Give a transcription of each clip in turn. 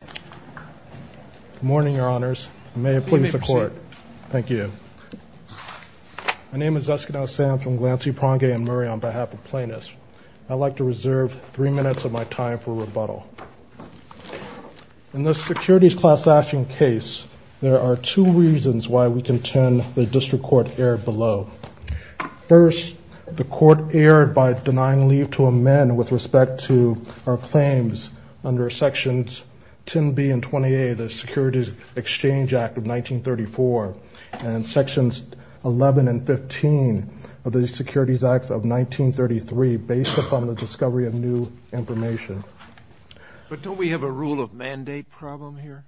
Good morning, Your Honors. May it please the Court. Thank you. My name is Eskenow Sam from Glancy, Prongay & Murray on behalf of Plaintiffs. I'd like to reserve three minutes of my time for rebuttal. In this securities class action case, there are two reasons why we contend the District Court erred below. First, the Court erred by denying leave to amend with respect to our claims under Sections 10B and 20A of the Securities Exchange Act of 1934 and Sections 11 and 15 of the Securities Act of 1933 based upon the discovery of new information. But don't we have a rule of mandate problem here?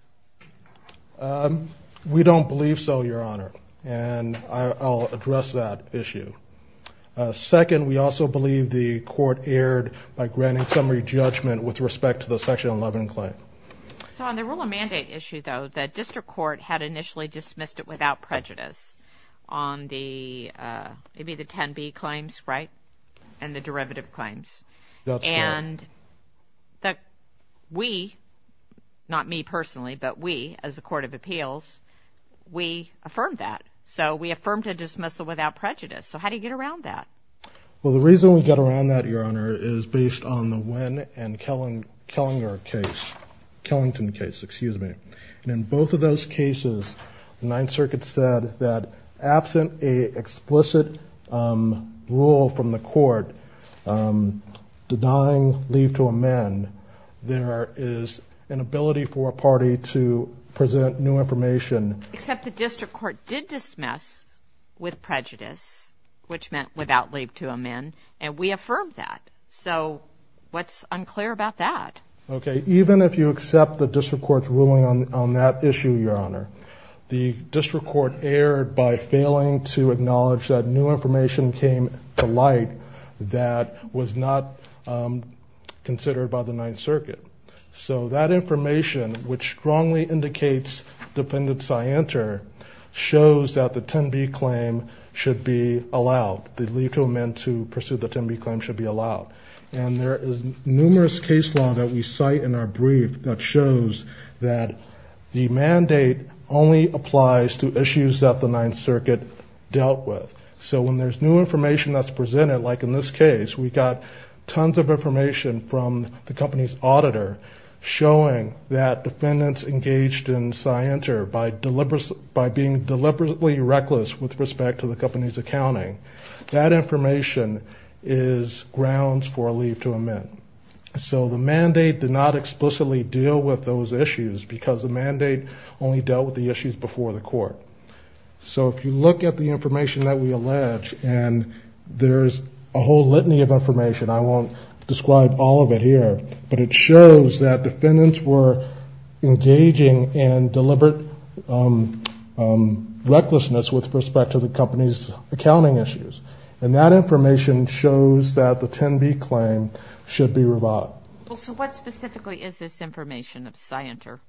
We don't believe so, Your Honor, and I'll address that I believe the Court erred by granting summary judgment with respect to the Section 11 claim. So on the rule of mandate issue, though, the District Court had initially dismissed it without prejudice on the, maybe the 10B claims, right, and the derivative claims. That's correct. And we, not me personally, but we as a Court of Appeals, we affirmed that. So we affirmed a dismissal without prejudice. So how do you get around that? Well, the reason we get around that, Your Honor, is based on the Wynn and Kellinger case, Kellington case, excuse me. And in both of those cases, the Ninth Circuit said that absent a explicit rule from the Court denying leave to amend, there is an ability for a party to present new which meant without leave to amend, and we affirmed that. So what's unclear about that? Okay, even if you accept the District Court's ruling on that issue, Your Honor, the District Court erred by failing to acknowledge that new information came to light that was not considered by the Ninth Circuit. So that information, which strongly indicates Defendant Scianter, shows that the 10B claim should be allowed. The leave to amend to pursue the 10B claim should be allowed. And there is numerous case law that we cite in our brief that shows that the mandate only applies to issues that the Ninth Circuit dealt with. So when there's new information that's presented, like in this case, we got tons of information from the company's auditor showing that Defendants engaged in Scianter by being deliberately reckless with respect to the company's accounting. That information is grounds for a leave to amend. So the mandate did not explicitly deal with those issues because the mandate only dealt with the issues before the Court. So if you look at the information that we allege, and there's a whole litany of information, I won't describe all of it here, but it shows that Defendants were engaging in deliberate recklessness with respect to the company's accounting issues. And that information shows that the 10B claim should be revoked. So what specifically is this information of Scianter?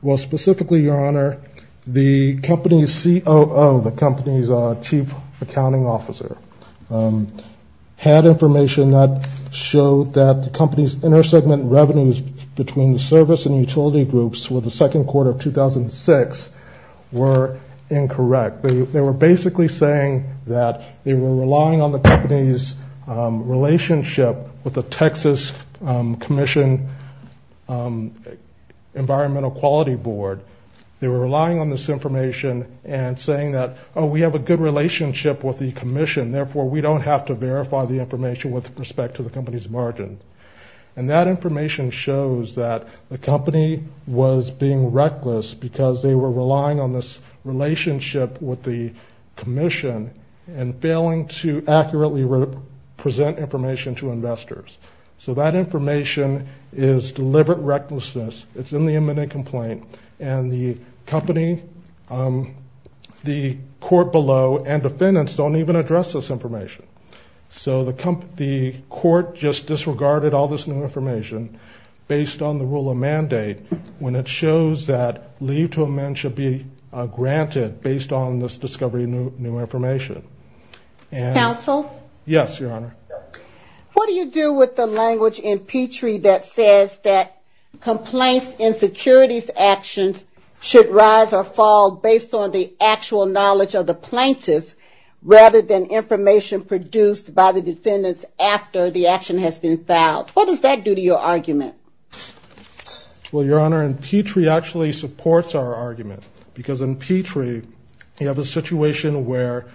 Well, specifically, Your Honor, the company's COO, the company's chief accounting officer, had information that showed that the company's intersegment revenues between the service and utility groups with the second quarter of 2006 were incorrect. They were basically saying that they were relying on the company's relationship with the Texas Commission Environmental Quality Board. They were relying on this information and saying that, oh, we have a good relationship with the Commission, therefore we don't have to verify the information with respect to the company's margin. And that information shows that the company was being reckless because they were relying on this relationship with the Commission and failing to accurately present information to investors. So that information is deliberate recklessness. It's in the eminent complaint and the company, the court below, and Defendants don't even address this information. So the court just disregarded all this new information based on the rule of mandate when it shows that leave to amend should be granted based on this discovery of new information. Counsel? Yes, Your Honor. What do you do with the language in Petrie that says that complaints and securities actions should rise or fall based on the actual knowledge of the plaintiffs rather than information produced by the defendants after the action has been filed? What does that do to your argument? Well, Your Honor, Petrie actually supports our argument because in Petrie you have a situation where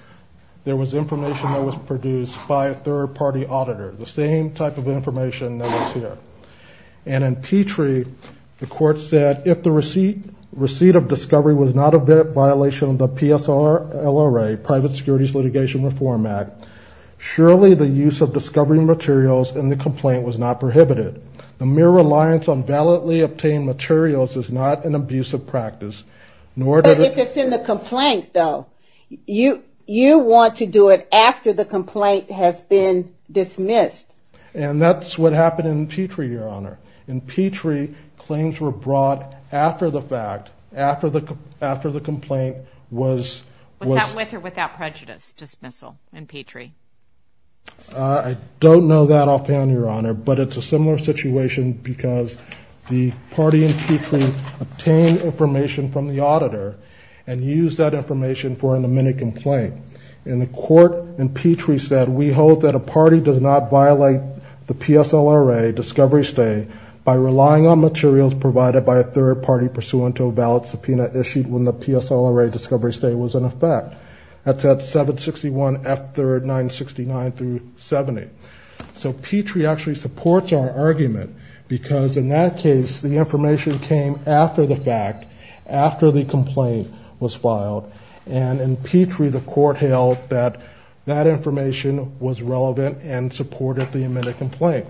there was information that was produced by a third-party auditor, the same type of information that was here. And in Petrie, the court said if the receipt of discovery was not a violation of the PSLRA, Private Securities Litigation Reform Act, surely the use of discovery materials in the complaint was not prohibited. The mere reliance on validly obtained materials is not an abusive practice. But if it's in the complaint though, you want to do it after the complaint has been dismissed. And that's what happened in Petrie, Your Honor. In Petrie, claims were brought after the fact, after the complaint was... Was that with or without prejudice, dismissal in Petrie? I don't know that offhand, Your Honor, but it's a similar situation because the party in Petrie obtained information from the auditor and used that information for an amended complaint. And the court in Petrie said, we hold that a party does not violate the PSLRA discovery stay by relying on materials provided by a third-party pursuant to a valid subpoena issued when the PSLRA discovery stay was in effect. That's at 761 F3rd 969 through 70. So Petrie actually supports our argument because in that case, the information came after the fact, after the complaint was filed. And in Petrie, the court held that that information was relevant and supported the amended complaint.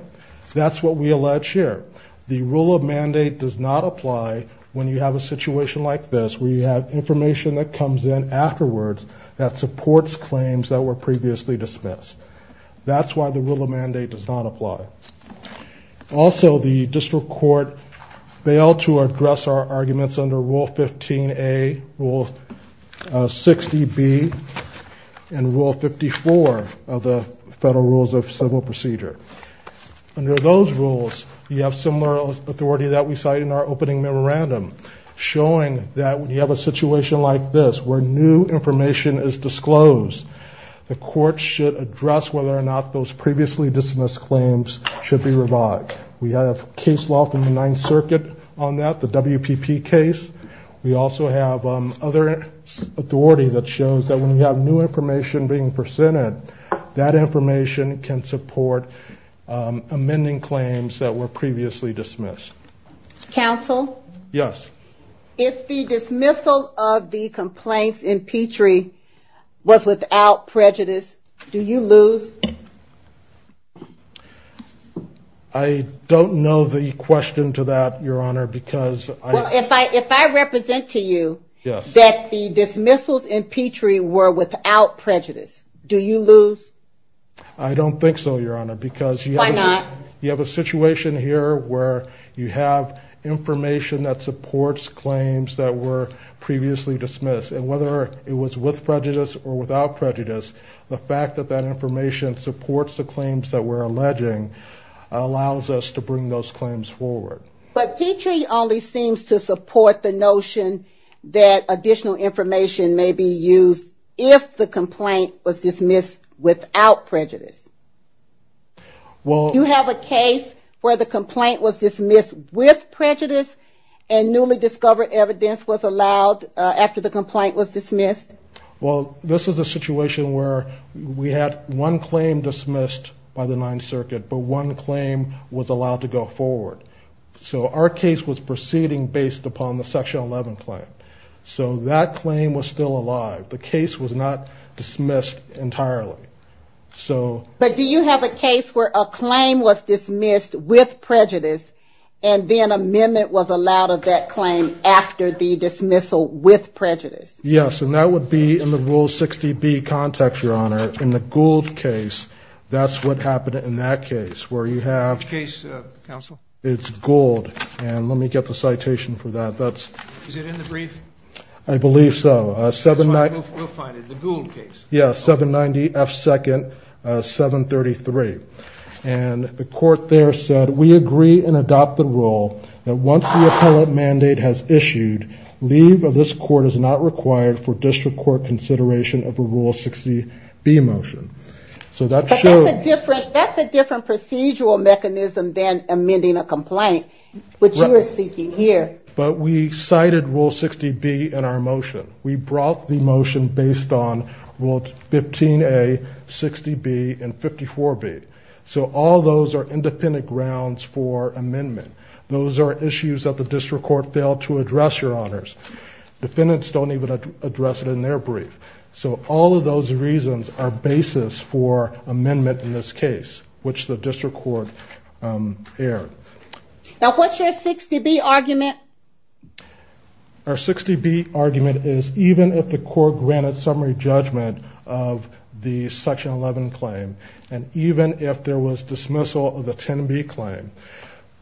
That's what we allege here. The rule of mandate does not apply when you have a situation like this, where you have information that comes in afterwards that supports claims that were previously dismissed. That's why the rule of mandate does not apply. Also, the district court failed to 60B and Rule 54 of the Federal Rules of Civil Procedure. Under those rules, you have similar authority that we cite in our opening memorandum, showing that when you have a situation like this, where new information is disclosed, the court should address whether or not those previously dismissed claims should be revoked. We have case law from the Ninth Circuit on that, the WPP case. We also have other authority that shows that when you have new information being presented, that information can support amending claims that were previously dismissed. Counsel? Yes. If the dismissal of the complaints in Petrie was without prejudice, do you lose? I don't know the question to that, Your Honor, because... If I represent to you that the dismissals in Petrie were without prejudice, do you lose? I don't think so, Your Honor, because... Why not? You have a situation here where you have information that supports claims that were previously dismissed, and whether it was with prejudice or without prejudice, the fact that that information supports the claims that we're alleging allows us to bring those the notion that additional information may be used if the complaint was dismissed without prejudice. Well... Do you have a case where the complaint was dismissed with prejudice, and newly discovered evidence was allowed after the complaint was dismissed? Well, this is a situation where we had one claim dismissed by the Ninth Circuit, but one claim was allowed to go forward. So our case was proceeding based upon the Section 11 claim. So that claim was still alive. The case was not dismissed entirely. So... But do you have a case where a claim was dismissed with prejudice, and then amendment was allowed of that claim after the dismissal with prejudice? Yes, and that would be in the Rule 60B context, Your Honor. In the Gould case, that's what happened in that case, where you have... Let me get the citation for that. That's... Is it in the brief? I believe so. 790... You'll find it, the Gould case. Yeah, 790 F. 2nd, 733. And the court there said, we agree and adopt the rule that once the appellate mandate has issued, leave of this court is not required for district court consideration of a Rule 60B motion. So that's... That's a different procedural mechanism than amending a complaint, which you are seeking here. But we cited Rule 60B in our motion. We brought the motion based on Rule 15A, 60B, and 54B. So all those are independent grounds for amendment. Those are issues that the district court failed to address, Your Honors. Defendants don't even address it in their brief. So all of those reasons are basis for amendment in this case, which the district court erred. Now, what's your 60B argument? Our 60B argument is, even if the court granted summary judgment of the Section 11 claim, and even if there was dismissal of the 10B claim,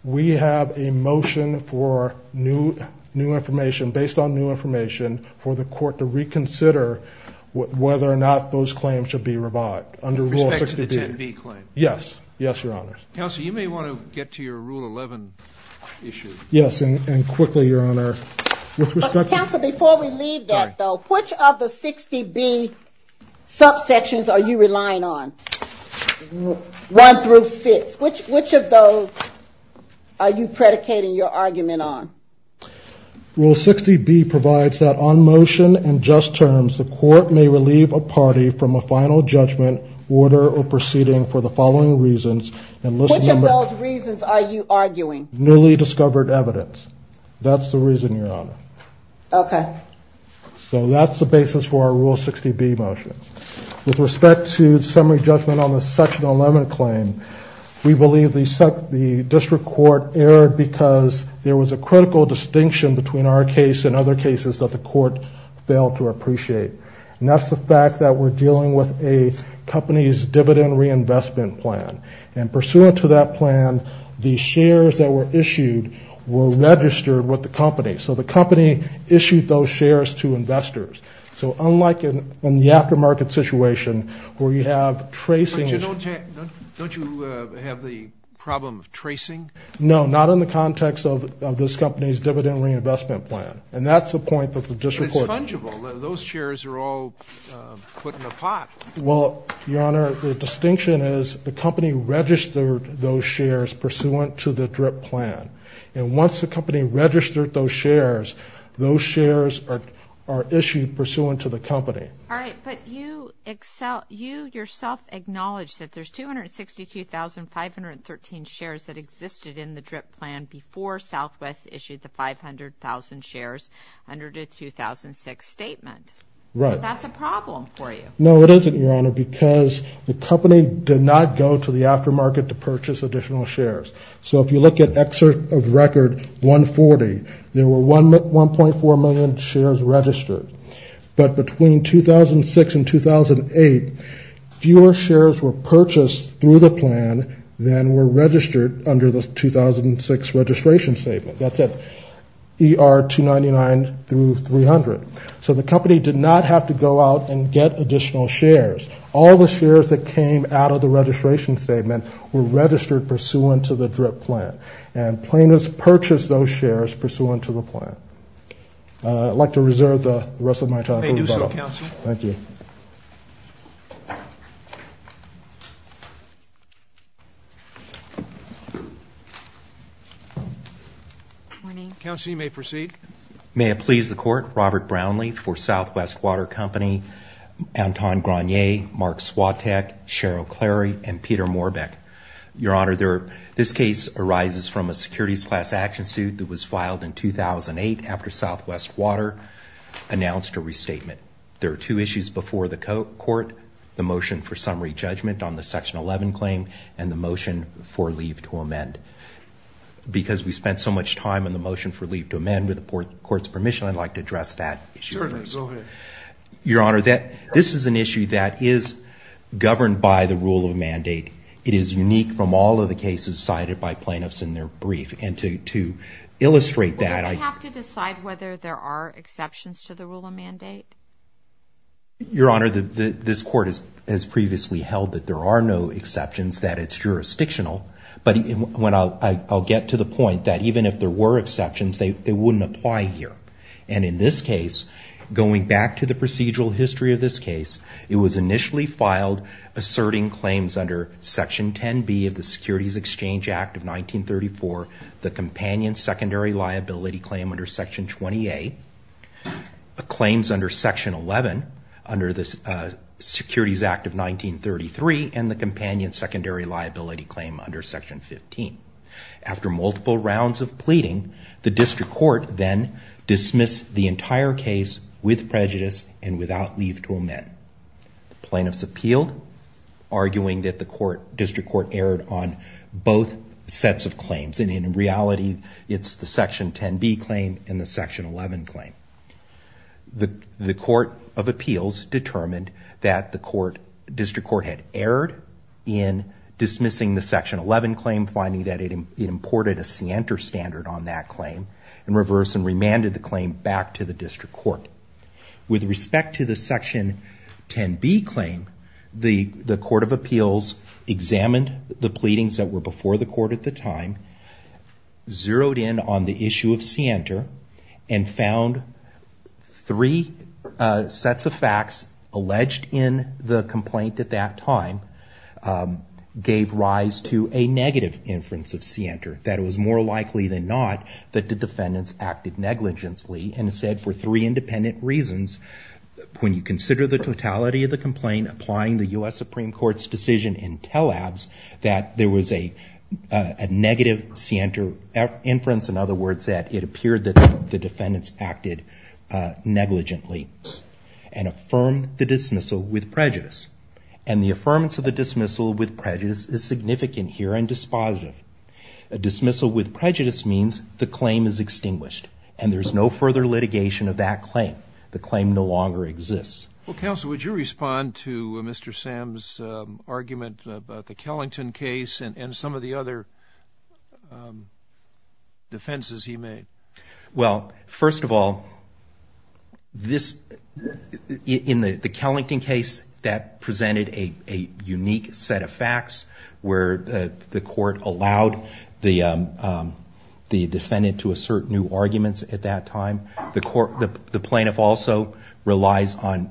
we have a motion for new, new information, based on new information, for the court to reconsider whether or not this claim should be revived, under Rule 60B. With respect to the 10B claim? Yes. Yes, Your Honors. Counsel, you may want to get to your Rule 11 issue. Yes, and quickly, Your Honor, with respect to... Counsel, before we leave that, though, which of the 60B subsections are you relying on? One through six. Which of those are you predicating your argument on? Rule 60B provides that, on motion and just terms, the court may relieve a party from a final judgment, order, or proceeding for the following reasons, and listen to... Which of those reasons are you arguing? Newly discovered evidence. That's the reason, Your Honor. Okay. So that's the basis for our Rule 60B motion. With respect to the summary judgment on the Section 11 claim, we believe the district court erred because there was a critical distinction between our case and other cases that the court failed to appreciate. And that's the fact that we're dealing with a company's dividend reinvestment plan. And pursuant to that plan, the shares that were issued were registered with the company. So the company issued those shares to investors. So unlike in the aftermarket situation, where you have tracing... Don't you have the problem of And that's the point that the district court... It's fungible. Those shares are all put in a pot. Well, Your Honor, the distinction is the company registered those shares pursuant to the DRIP plan. And once the company registered those shares, those shares are issued pursuant to the company. All right. But you yourself acknowledged that there's 262,513 shares that existed in the DRIP plan before Southwest issued the 500,000 shares under the 2006 statement. Right. That's a problem for you. No, it isn't, Your Honor, because the company did not go to the aftermarket to purchase additional shares. So if you look at excerpt of record 140, there were 1.4 million shares registered. But between 2006 and 2008, fewer shares were purchased through the plan than were registered under the 2006 registration statement. That's at ER 299 through 300. So the company did not have to go out and get additional shares. All the shares that came out of the registration statement were registered pursuant to the DRIP plan. And plaintiffs purchased those shares pursuant to the plan. I'd like to reserve the rest of my time for rebuttal. Thank you. Counsel, you may proceed. May it please the Court, Robert Brownlee for Southwest Water Company, Anton Grenier, Mark Swatek, Cheryl Clary, and Peter Morbek. Your Honor, this case arises from a securities class action suit that was filed in 2008 after Southwest Water announced a restatement. There are two issues before the court. The motion for summary judgment on the Section 11 claim and the motion for leave to amend. Because we spent so much time on the motion for leave to amend, with the court's permission, I'd like to address that issue. Your Honor, this is an issue that is governed by the rule of mandate. It is unique from all of the cases cited by plaintiffs in their brief. And to illustrate that, I have to decide whether there are exceptions to the rule of mandate. Your Honor, this court has previously held that there are no exceptions, that it's jurisdictional. But I'll get to the point that even if there were exceptions, they wouldn't apply here. And in this case, going back to the procedural history of this case, it was initially filed asserting claims under Section 10b of the Securities Exchange Act of 1934, the companion secondary liability claim under Section 20a, claims under Section 11 under the companion secondary liability claim under Section 15. After multiple rounds of pleading, the district court then dismissed the entire case with prejudice and without leave to amend. Plaintiffs appealed, arguing that the court, district court, erred on both sets of claims. And in reality, it's the Section 10b claim and the Section 11 claim. The court of appeals determined that the court, district court, had erred in dismissing the Section 11 claim, finding that it imported a scienter standard on that claim, and reversed and remanded the claim back to the district court. With respect to the Section 10b claim, the court of appeals examined the pleadings that were before the court at the time, zeroed in on the issue of scienter, and found three sets of facts alleged in the complaint at that time gave rise to a negative inference of scienter, that it was more likely than not that the defendants acted negligently, and said for three independent reasons, when you consider the totality of the complaint applying the U.S. Supreme Court's decision in tell-abs, that there was a negative scienter inference, in other words, that it appeared that the dismissal with prejudice, and the affirmance of the dismissal with prejudice is significant here and dispositive. A dismissal with prejudice means the claim is extinguished, and there's no further litigation of that claim. The claim no longer exists. Well, counsel, would you respond to Mr. Sam's argument about the Kellington case and some of the other defenses he made? Well, first of all, in the Kellington case, that presented a unique set of facts where the court allowed the defendant to assert new arguments at that time. The plaintiff also relies on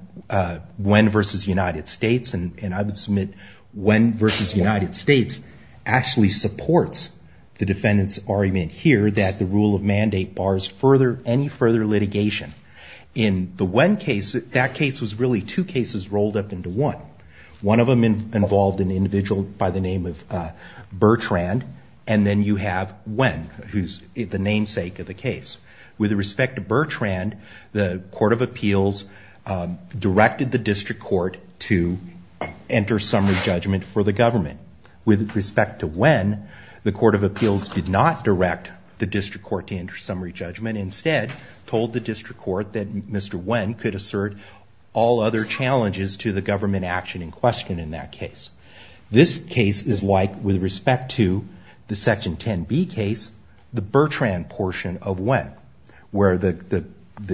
when versus United States, and I would submit when versus United States actually supports the defendant's any further litigation. In the when case, that case was really two cases rolled up into one. One of them involved an individual by the name of Bertrand, and then you have when, who's the namesake of the case. With respect to Bertrand, the Court of Appeals directed the District Court to enter summary judgment for the government. With respect to when, the Court of Appeals did not enter summary judgment. Instead, told the District Court that Mr. When could assert all other challenges to the government action in question in that case. This case is like, with respect to the Section 10b case, the Bertrand portion of when, where the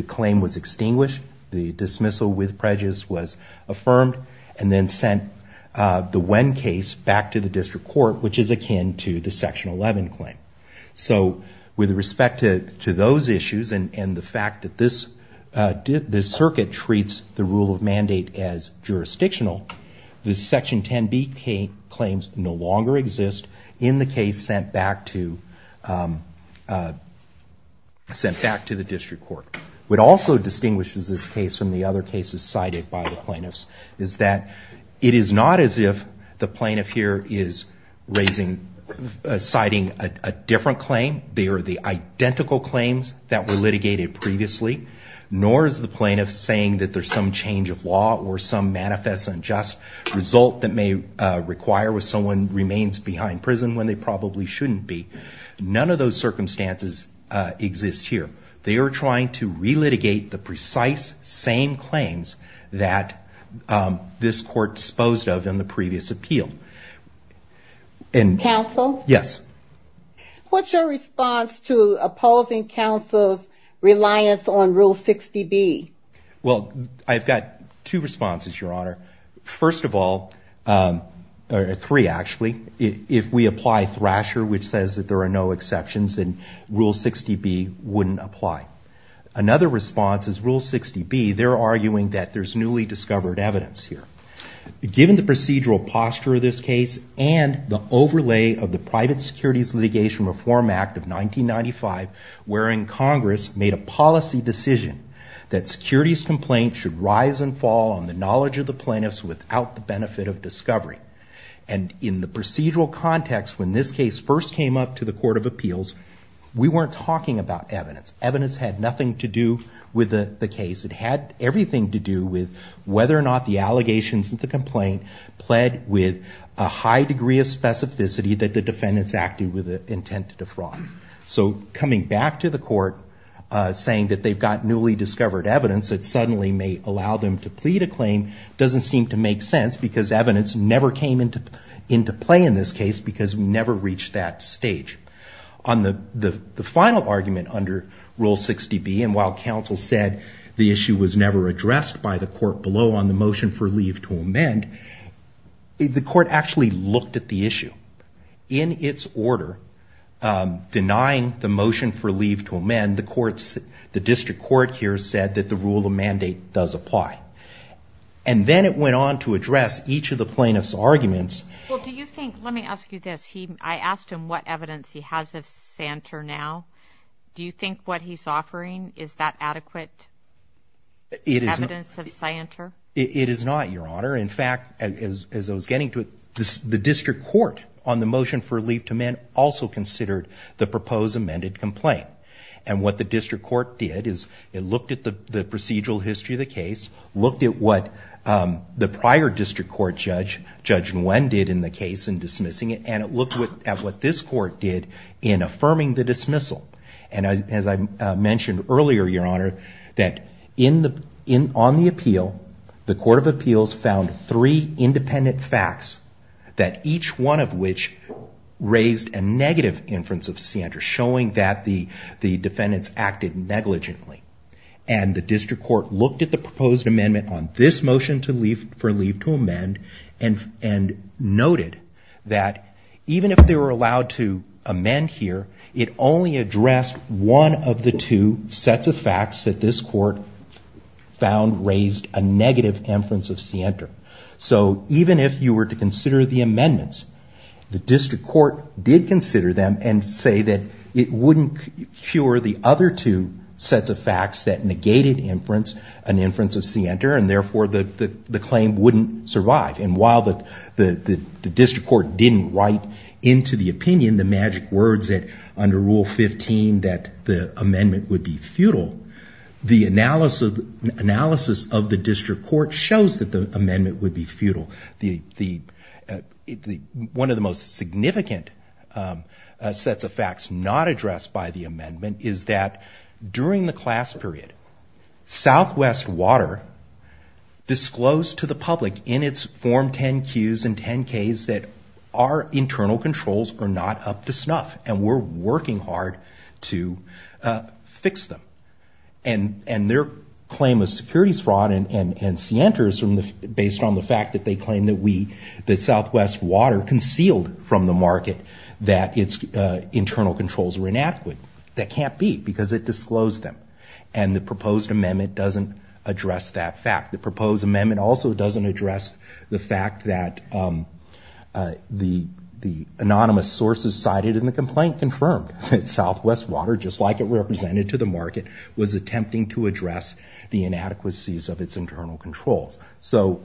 claim was extinguished, the dismissal with prejudice was affirmed, and then sent the when case back to the District Court, which is akin to the Section 11 claim. So with respect to those issues, and the fact that this circuit treats the rule of mandate as jurisdictional, the Section 10b claims no longer exist in the case sent back to the District Court. What also distinguishes this case from the other cases cited by the plaintiffs is that it is not as if the plaintiff here is citing a different claim. They are the identical claims that were litigated previously, nor is the plaintiff saying that there's some change of law or some manifest unjust result that may require when someone remains behind prison when they probably shouldn't be. None of those circumstances exist here. They are trying to re-litigate the precise same claims that this court disposed of in the previous appeal. Counsel? Yes. What's your response to opposing counsel's reliance on Rule 60b? Well, I've got two responses, Your Honor. First of all, or three actually, if we apply Thrasher, which says that there are no exceptions, then Rule 60b is that we're arguing that there's newly discovered evidence here. Given the procedural posture of this case and the overlay of the Private Securities Litigation Reform Act of 1995, wherein Congress made a policy decision that securities complaints should rise and fall on the knowledge of the plaintiffs without the benefit of discovery, and in the procedural context when this case first came up to the Court of Appeals, we weren't talking about evidence. Evidence had nothing to do with the case. It had everything to do with whether or not the allegations of the complaint pled with a high degree of specificity that the defendants acted with the intent to defraud. So coming back to the Court saying that they've got newly discovered evidence that suddenly may allow them to plead a claim doesn't seem to make sense because evidence never came into play in this case because we never reached that stage. On the final argument under Rule 60b, and while counsel said the issue was never addressed by the court below on the motion for leave to amend, the court actually looked at the issue. In its order, denying the motion for leave to amend, the district court here said that the rule of mandate does apply. And then it went on to address each of the plaintiffs' arguments. Well, do you think, let me ask you this, I asked him what evidence he has of Santer now. Do you think what he's offering is that adequate evidence of Santer? It is not, Your Honor. In fact, as I was getting to it, the district court on the motion for leave to amend also considered the proposed amended complaint. And what the district court did is it looked at the procedural history of the case, looked at what the prior district court judge, Judge Nguyen, did in the case in dismissing it, and it looked at what this court did in affirming the dismissal. And as I mentioned earlier, Your Honor, that on the appeal, the court of appeals found three independent facts that each one of which raised a negative inference of Santer, showing that the defendants acted negligently. And the district court looked at the proposed amendment on this motion for leave to amend and noted that even if they were allowed to amend here, it only addressed one of the two sets of facts that this court found raised a negative inference of Santer. So even if you were to consider the amendments, the district court did consider them and say that it wouldn't cure the other two sets of facts that negated inference, an inference of the claim wouldn't survive. And while the district court didn't write into the opinion the magic words that under Rule 15 that the amendment would be futile, the analysis of the district court shows that the amendment would be futile. One of the most significant sets of facts not addressed by the disclosed to the public in its Form 10-Qs and 10-Ks that our internal controls are not up to snuff and we're working hard to fix them. And their claim of securities fraud and Santer is based on the fact that they claim that Southwest Water concealed from the market that its internal controls were inadequate. That can't be because it disclosed them. And the proposed amendment also doesn't address the fact that the anonymous sources cited in the complaint confirmed that Southwest Water, just like it represented to the market, was attempting to address the inadequacies of its internal controls. So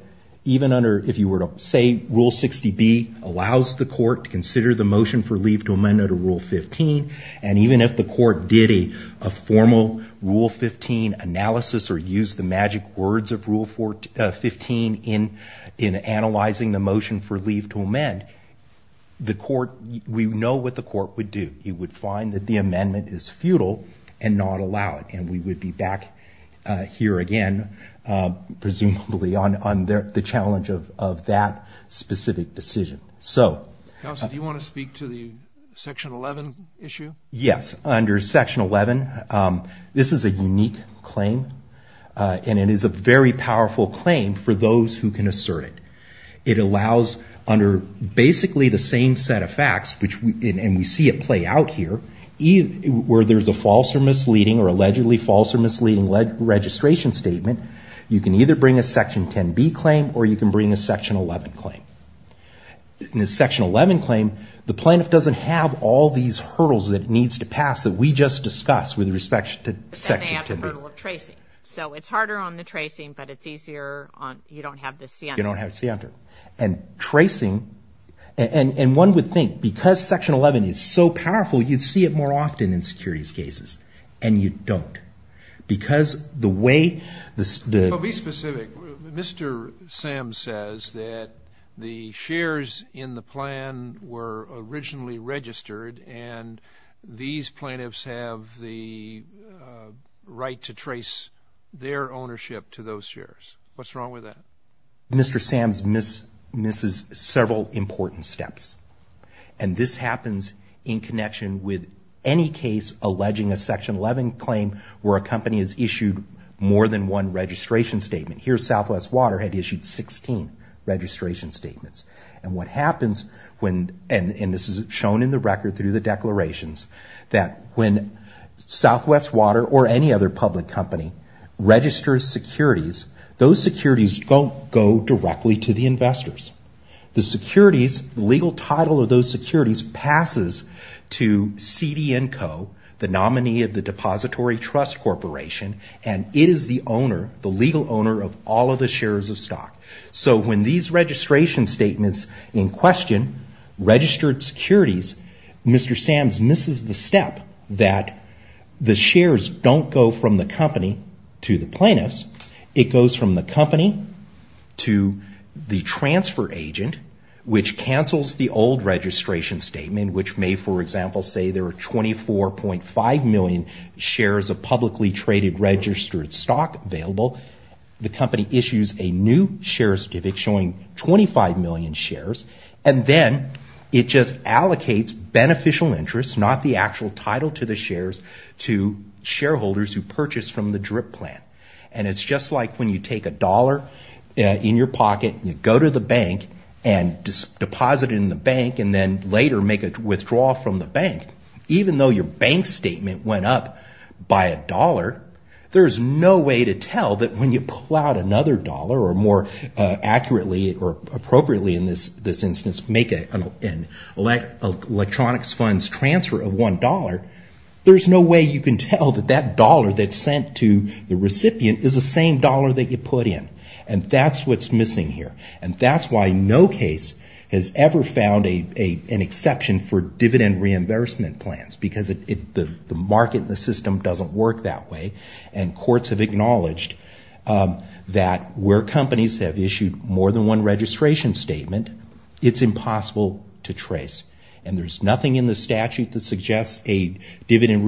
even under, if you were to say Rule 60B allows the court to consider the motion for leave to amend under Rule 15, and even if the court did a formal Rule 15 analysis or used the magic words of Rule 15 in analyzing the motion for leave to amend, the court, we know what the court would do. It would find that the amendment is futile and not allowed. And we would be back here again, presumably on the challenge of that specific decision. So... Counsel, do you want to speak to the Section 11 issue? Yes. Under Section 11, this is a unique claim and it is a very powerful claim for those who can assert it. It allows, under basically the same set of facts, and we see it play out here, where there's a false or misleading or allegedly false or misleading registration statement, you can either bring a Section 10B claim or you can bring a Section 11 claim. In the Section 11 claim, the plaintiff doesn't have all these hurdles that it needs to pass that we just discussed with respect to Section 10B. And they have the hurdle of tracing. So it's harder on the tracing, but it's easier on, you don't have the center. You don't have the center. And tracing, and one would think, because Section 11 is so powerful, you'd see it more often in securities cases. And you don't. Because the way the... Mr. Sams says that the shares in the plan were originally registered and these plaintiffs have the right to trace their ownership to those shares. What's wrong with that? Mr. Sams misses several important steps. And this happens in connection with any case alleging a Section 11 claim where a company has issued more than one registration statement. Here, Southwest Water had issued 16 registration statements. And what happens when, and this is shown in the record through the declarations, that when Southwest Water or any other public company registers securities, those securities don't go directly to the investors. The securities, the legal title of those securities passes to CD&Co, the nominee of the Depository Trust Corporation, and it is the owner, the legal owner of all of the shares of stock. So when these registration statements in question registered securities, Mr. Sams misses the step that the shares don't go from the company to the plaintiffs. It goes from the company to the transfer agent, which cancels the old registration statement, which may, for example, say there are 24.5 million shares of publicly traded registered stock available. The company issues a new share certificate showing 25 million shares, and then it just allocates beneficial interest, not the actual title to the shares, to shareholders who purchase from the DRIP plan. And it's just like when you take a dollar in your pocket and you go to the bank and deposit it in the bank and then later make a withdrawal from the bank, even though your bank statement went up by a dollar, there's no way to tell that when you pull out another dollar or more accurately or appropriately in this instance, make an electronics funds transfer of one dollar, there's no way you can tell that that dollar that's sent to the recipient is the same dollar that you put in. And that's what's missing here. And that's why no case has ever found an exception for dividend reimbursement plans, because the market and the system doesn't work that way. And courts have acknowledged that where companies have issued more than one registration statement, it's impossible to trace. And there's nothing in the statute that suggests a dividend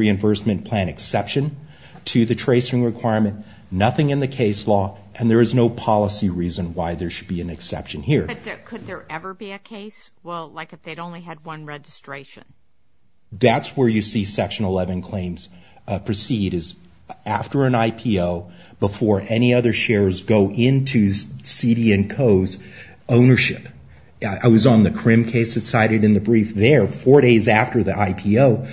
And there is no policy reason why there should be an exception here. But could there ever be a case, well, like if they'd only had one registration? That's where you see Section 11 claims proceed, is after an IPO, before any other shares go into CD&Co's ownership. I was on the CRIM case that's cited in the brief there. Four days after the IPO,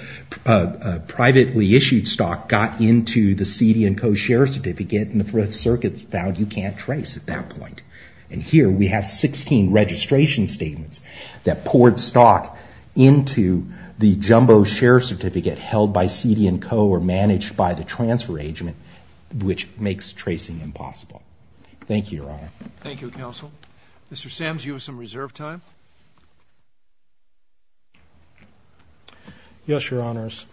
a privately issued stock got into the CD&Co share certificate and the circuit found you can't trace at that point. And here we have 16 registration statements that poured stock into the jumbo share certificate held by CD&Co or managed by the transfer agent, which makes tracing impossible. Thank you, Your Honor. Thank you, Counsel. Mr. Sams, you have some reserve time. Yes, Your Honors.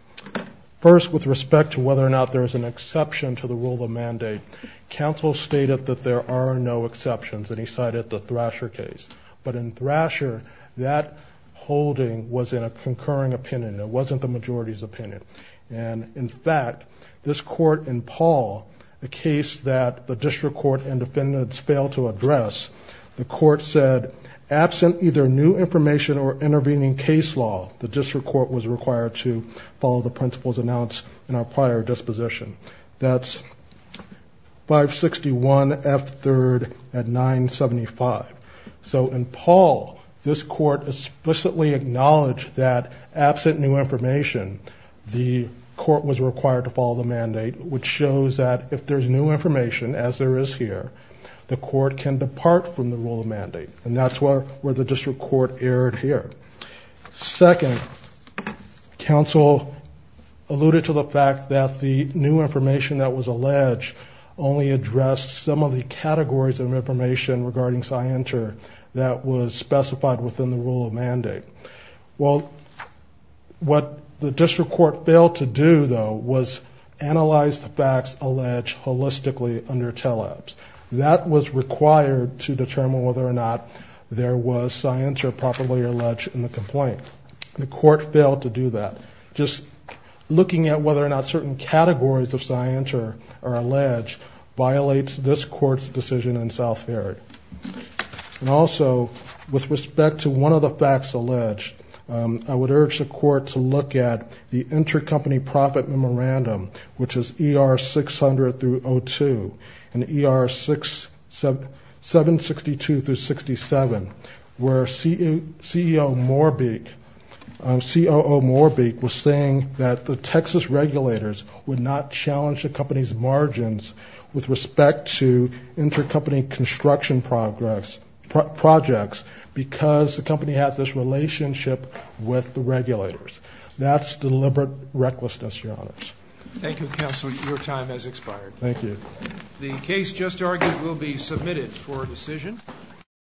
First, with respect to whether or not there is an exception to the rule of mandate, Counsel stated that there are no exceptions and he cited the Thrasher case. But in Thrasher, that holding was in a concurring opinion. It wasn't the majority's opinion. And in fact, this court in Paul, the case that the district court and defendants failed to address, the court said, absent either new information or intervening case law, the district court was required to follow the principles announced in our prior disposition. That's 561 F3rd at 975. So in Paul, this court explicitly acknowledged that absent new information, the court was required to follow the mandate, which shows that if there's new information, as there is here, the court can depart from the rule of mandate. And that's where the district court erred here. Second, Counsel alluded to the fact that the new information that was alleged only addressed some of the categories of information regarding SciENter that was specified within the rule of mandate. Well, what the district court failed to do, though, was analyze the facts alleged holistically under TELEBS. That was required to determine whether or not there was SciENter properly alleged in the complaint. The court failed to do that. Just looking at whether or not certain categories of SciENter are alleged violates this court's decision in South Ferret. And also, with respect to one of the facts alleged, I would urge the court to look at the intercompany profit memorandum, which is ER 600 through 02 and ER 762 through 67, where CEO Moorbeek, COO Moorbeek, was saying that the Texas regulators would not challenge the company's margins with respect to intercompany construction projects because the company had this relationship with the regulators. That's deliberate recklessness, Your Honors. Thank you, Counselor. Your time has expired. Thank you. The case just argued will be submitted for a decision.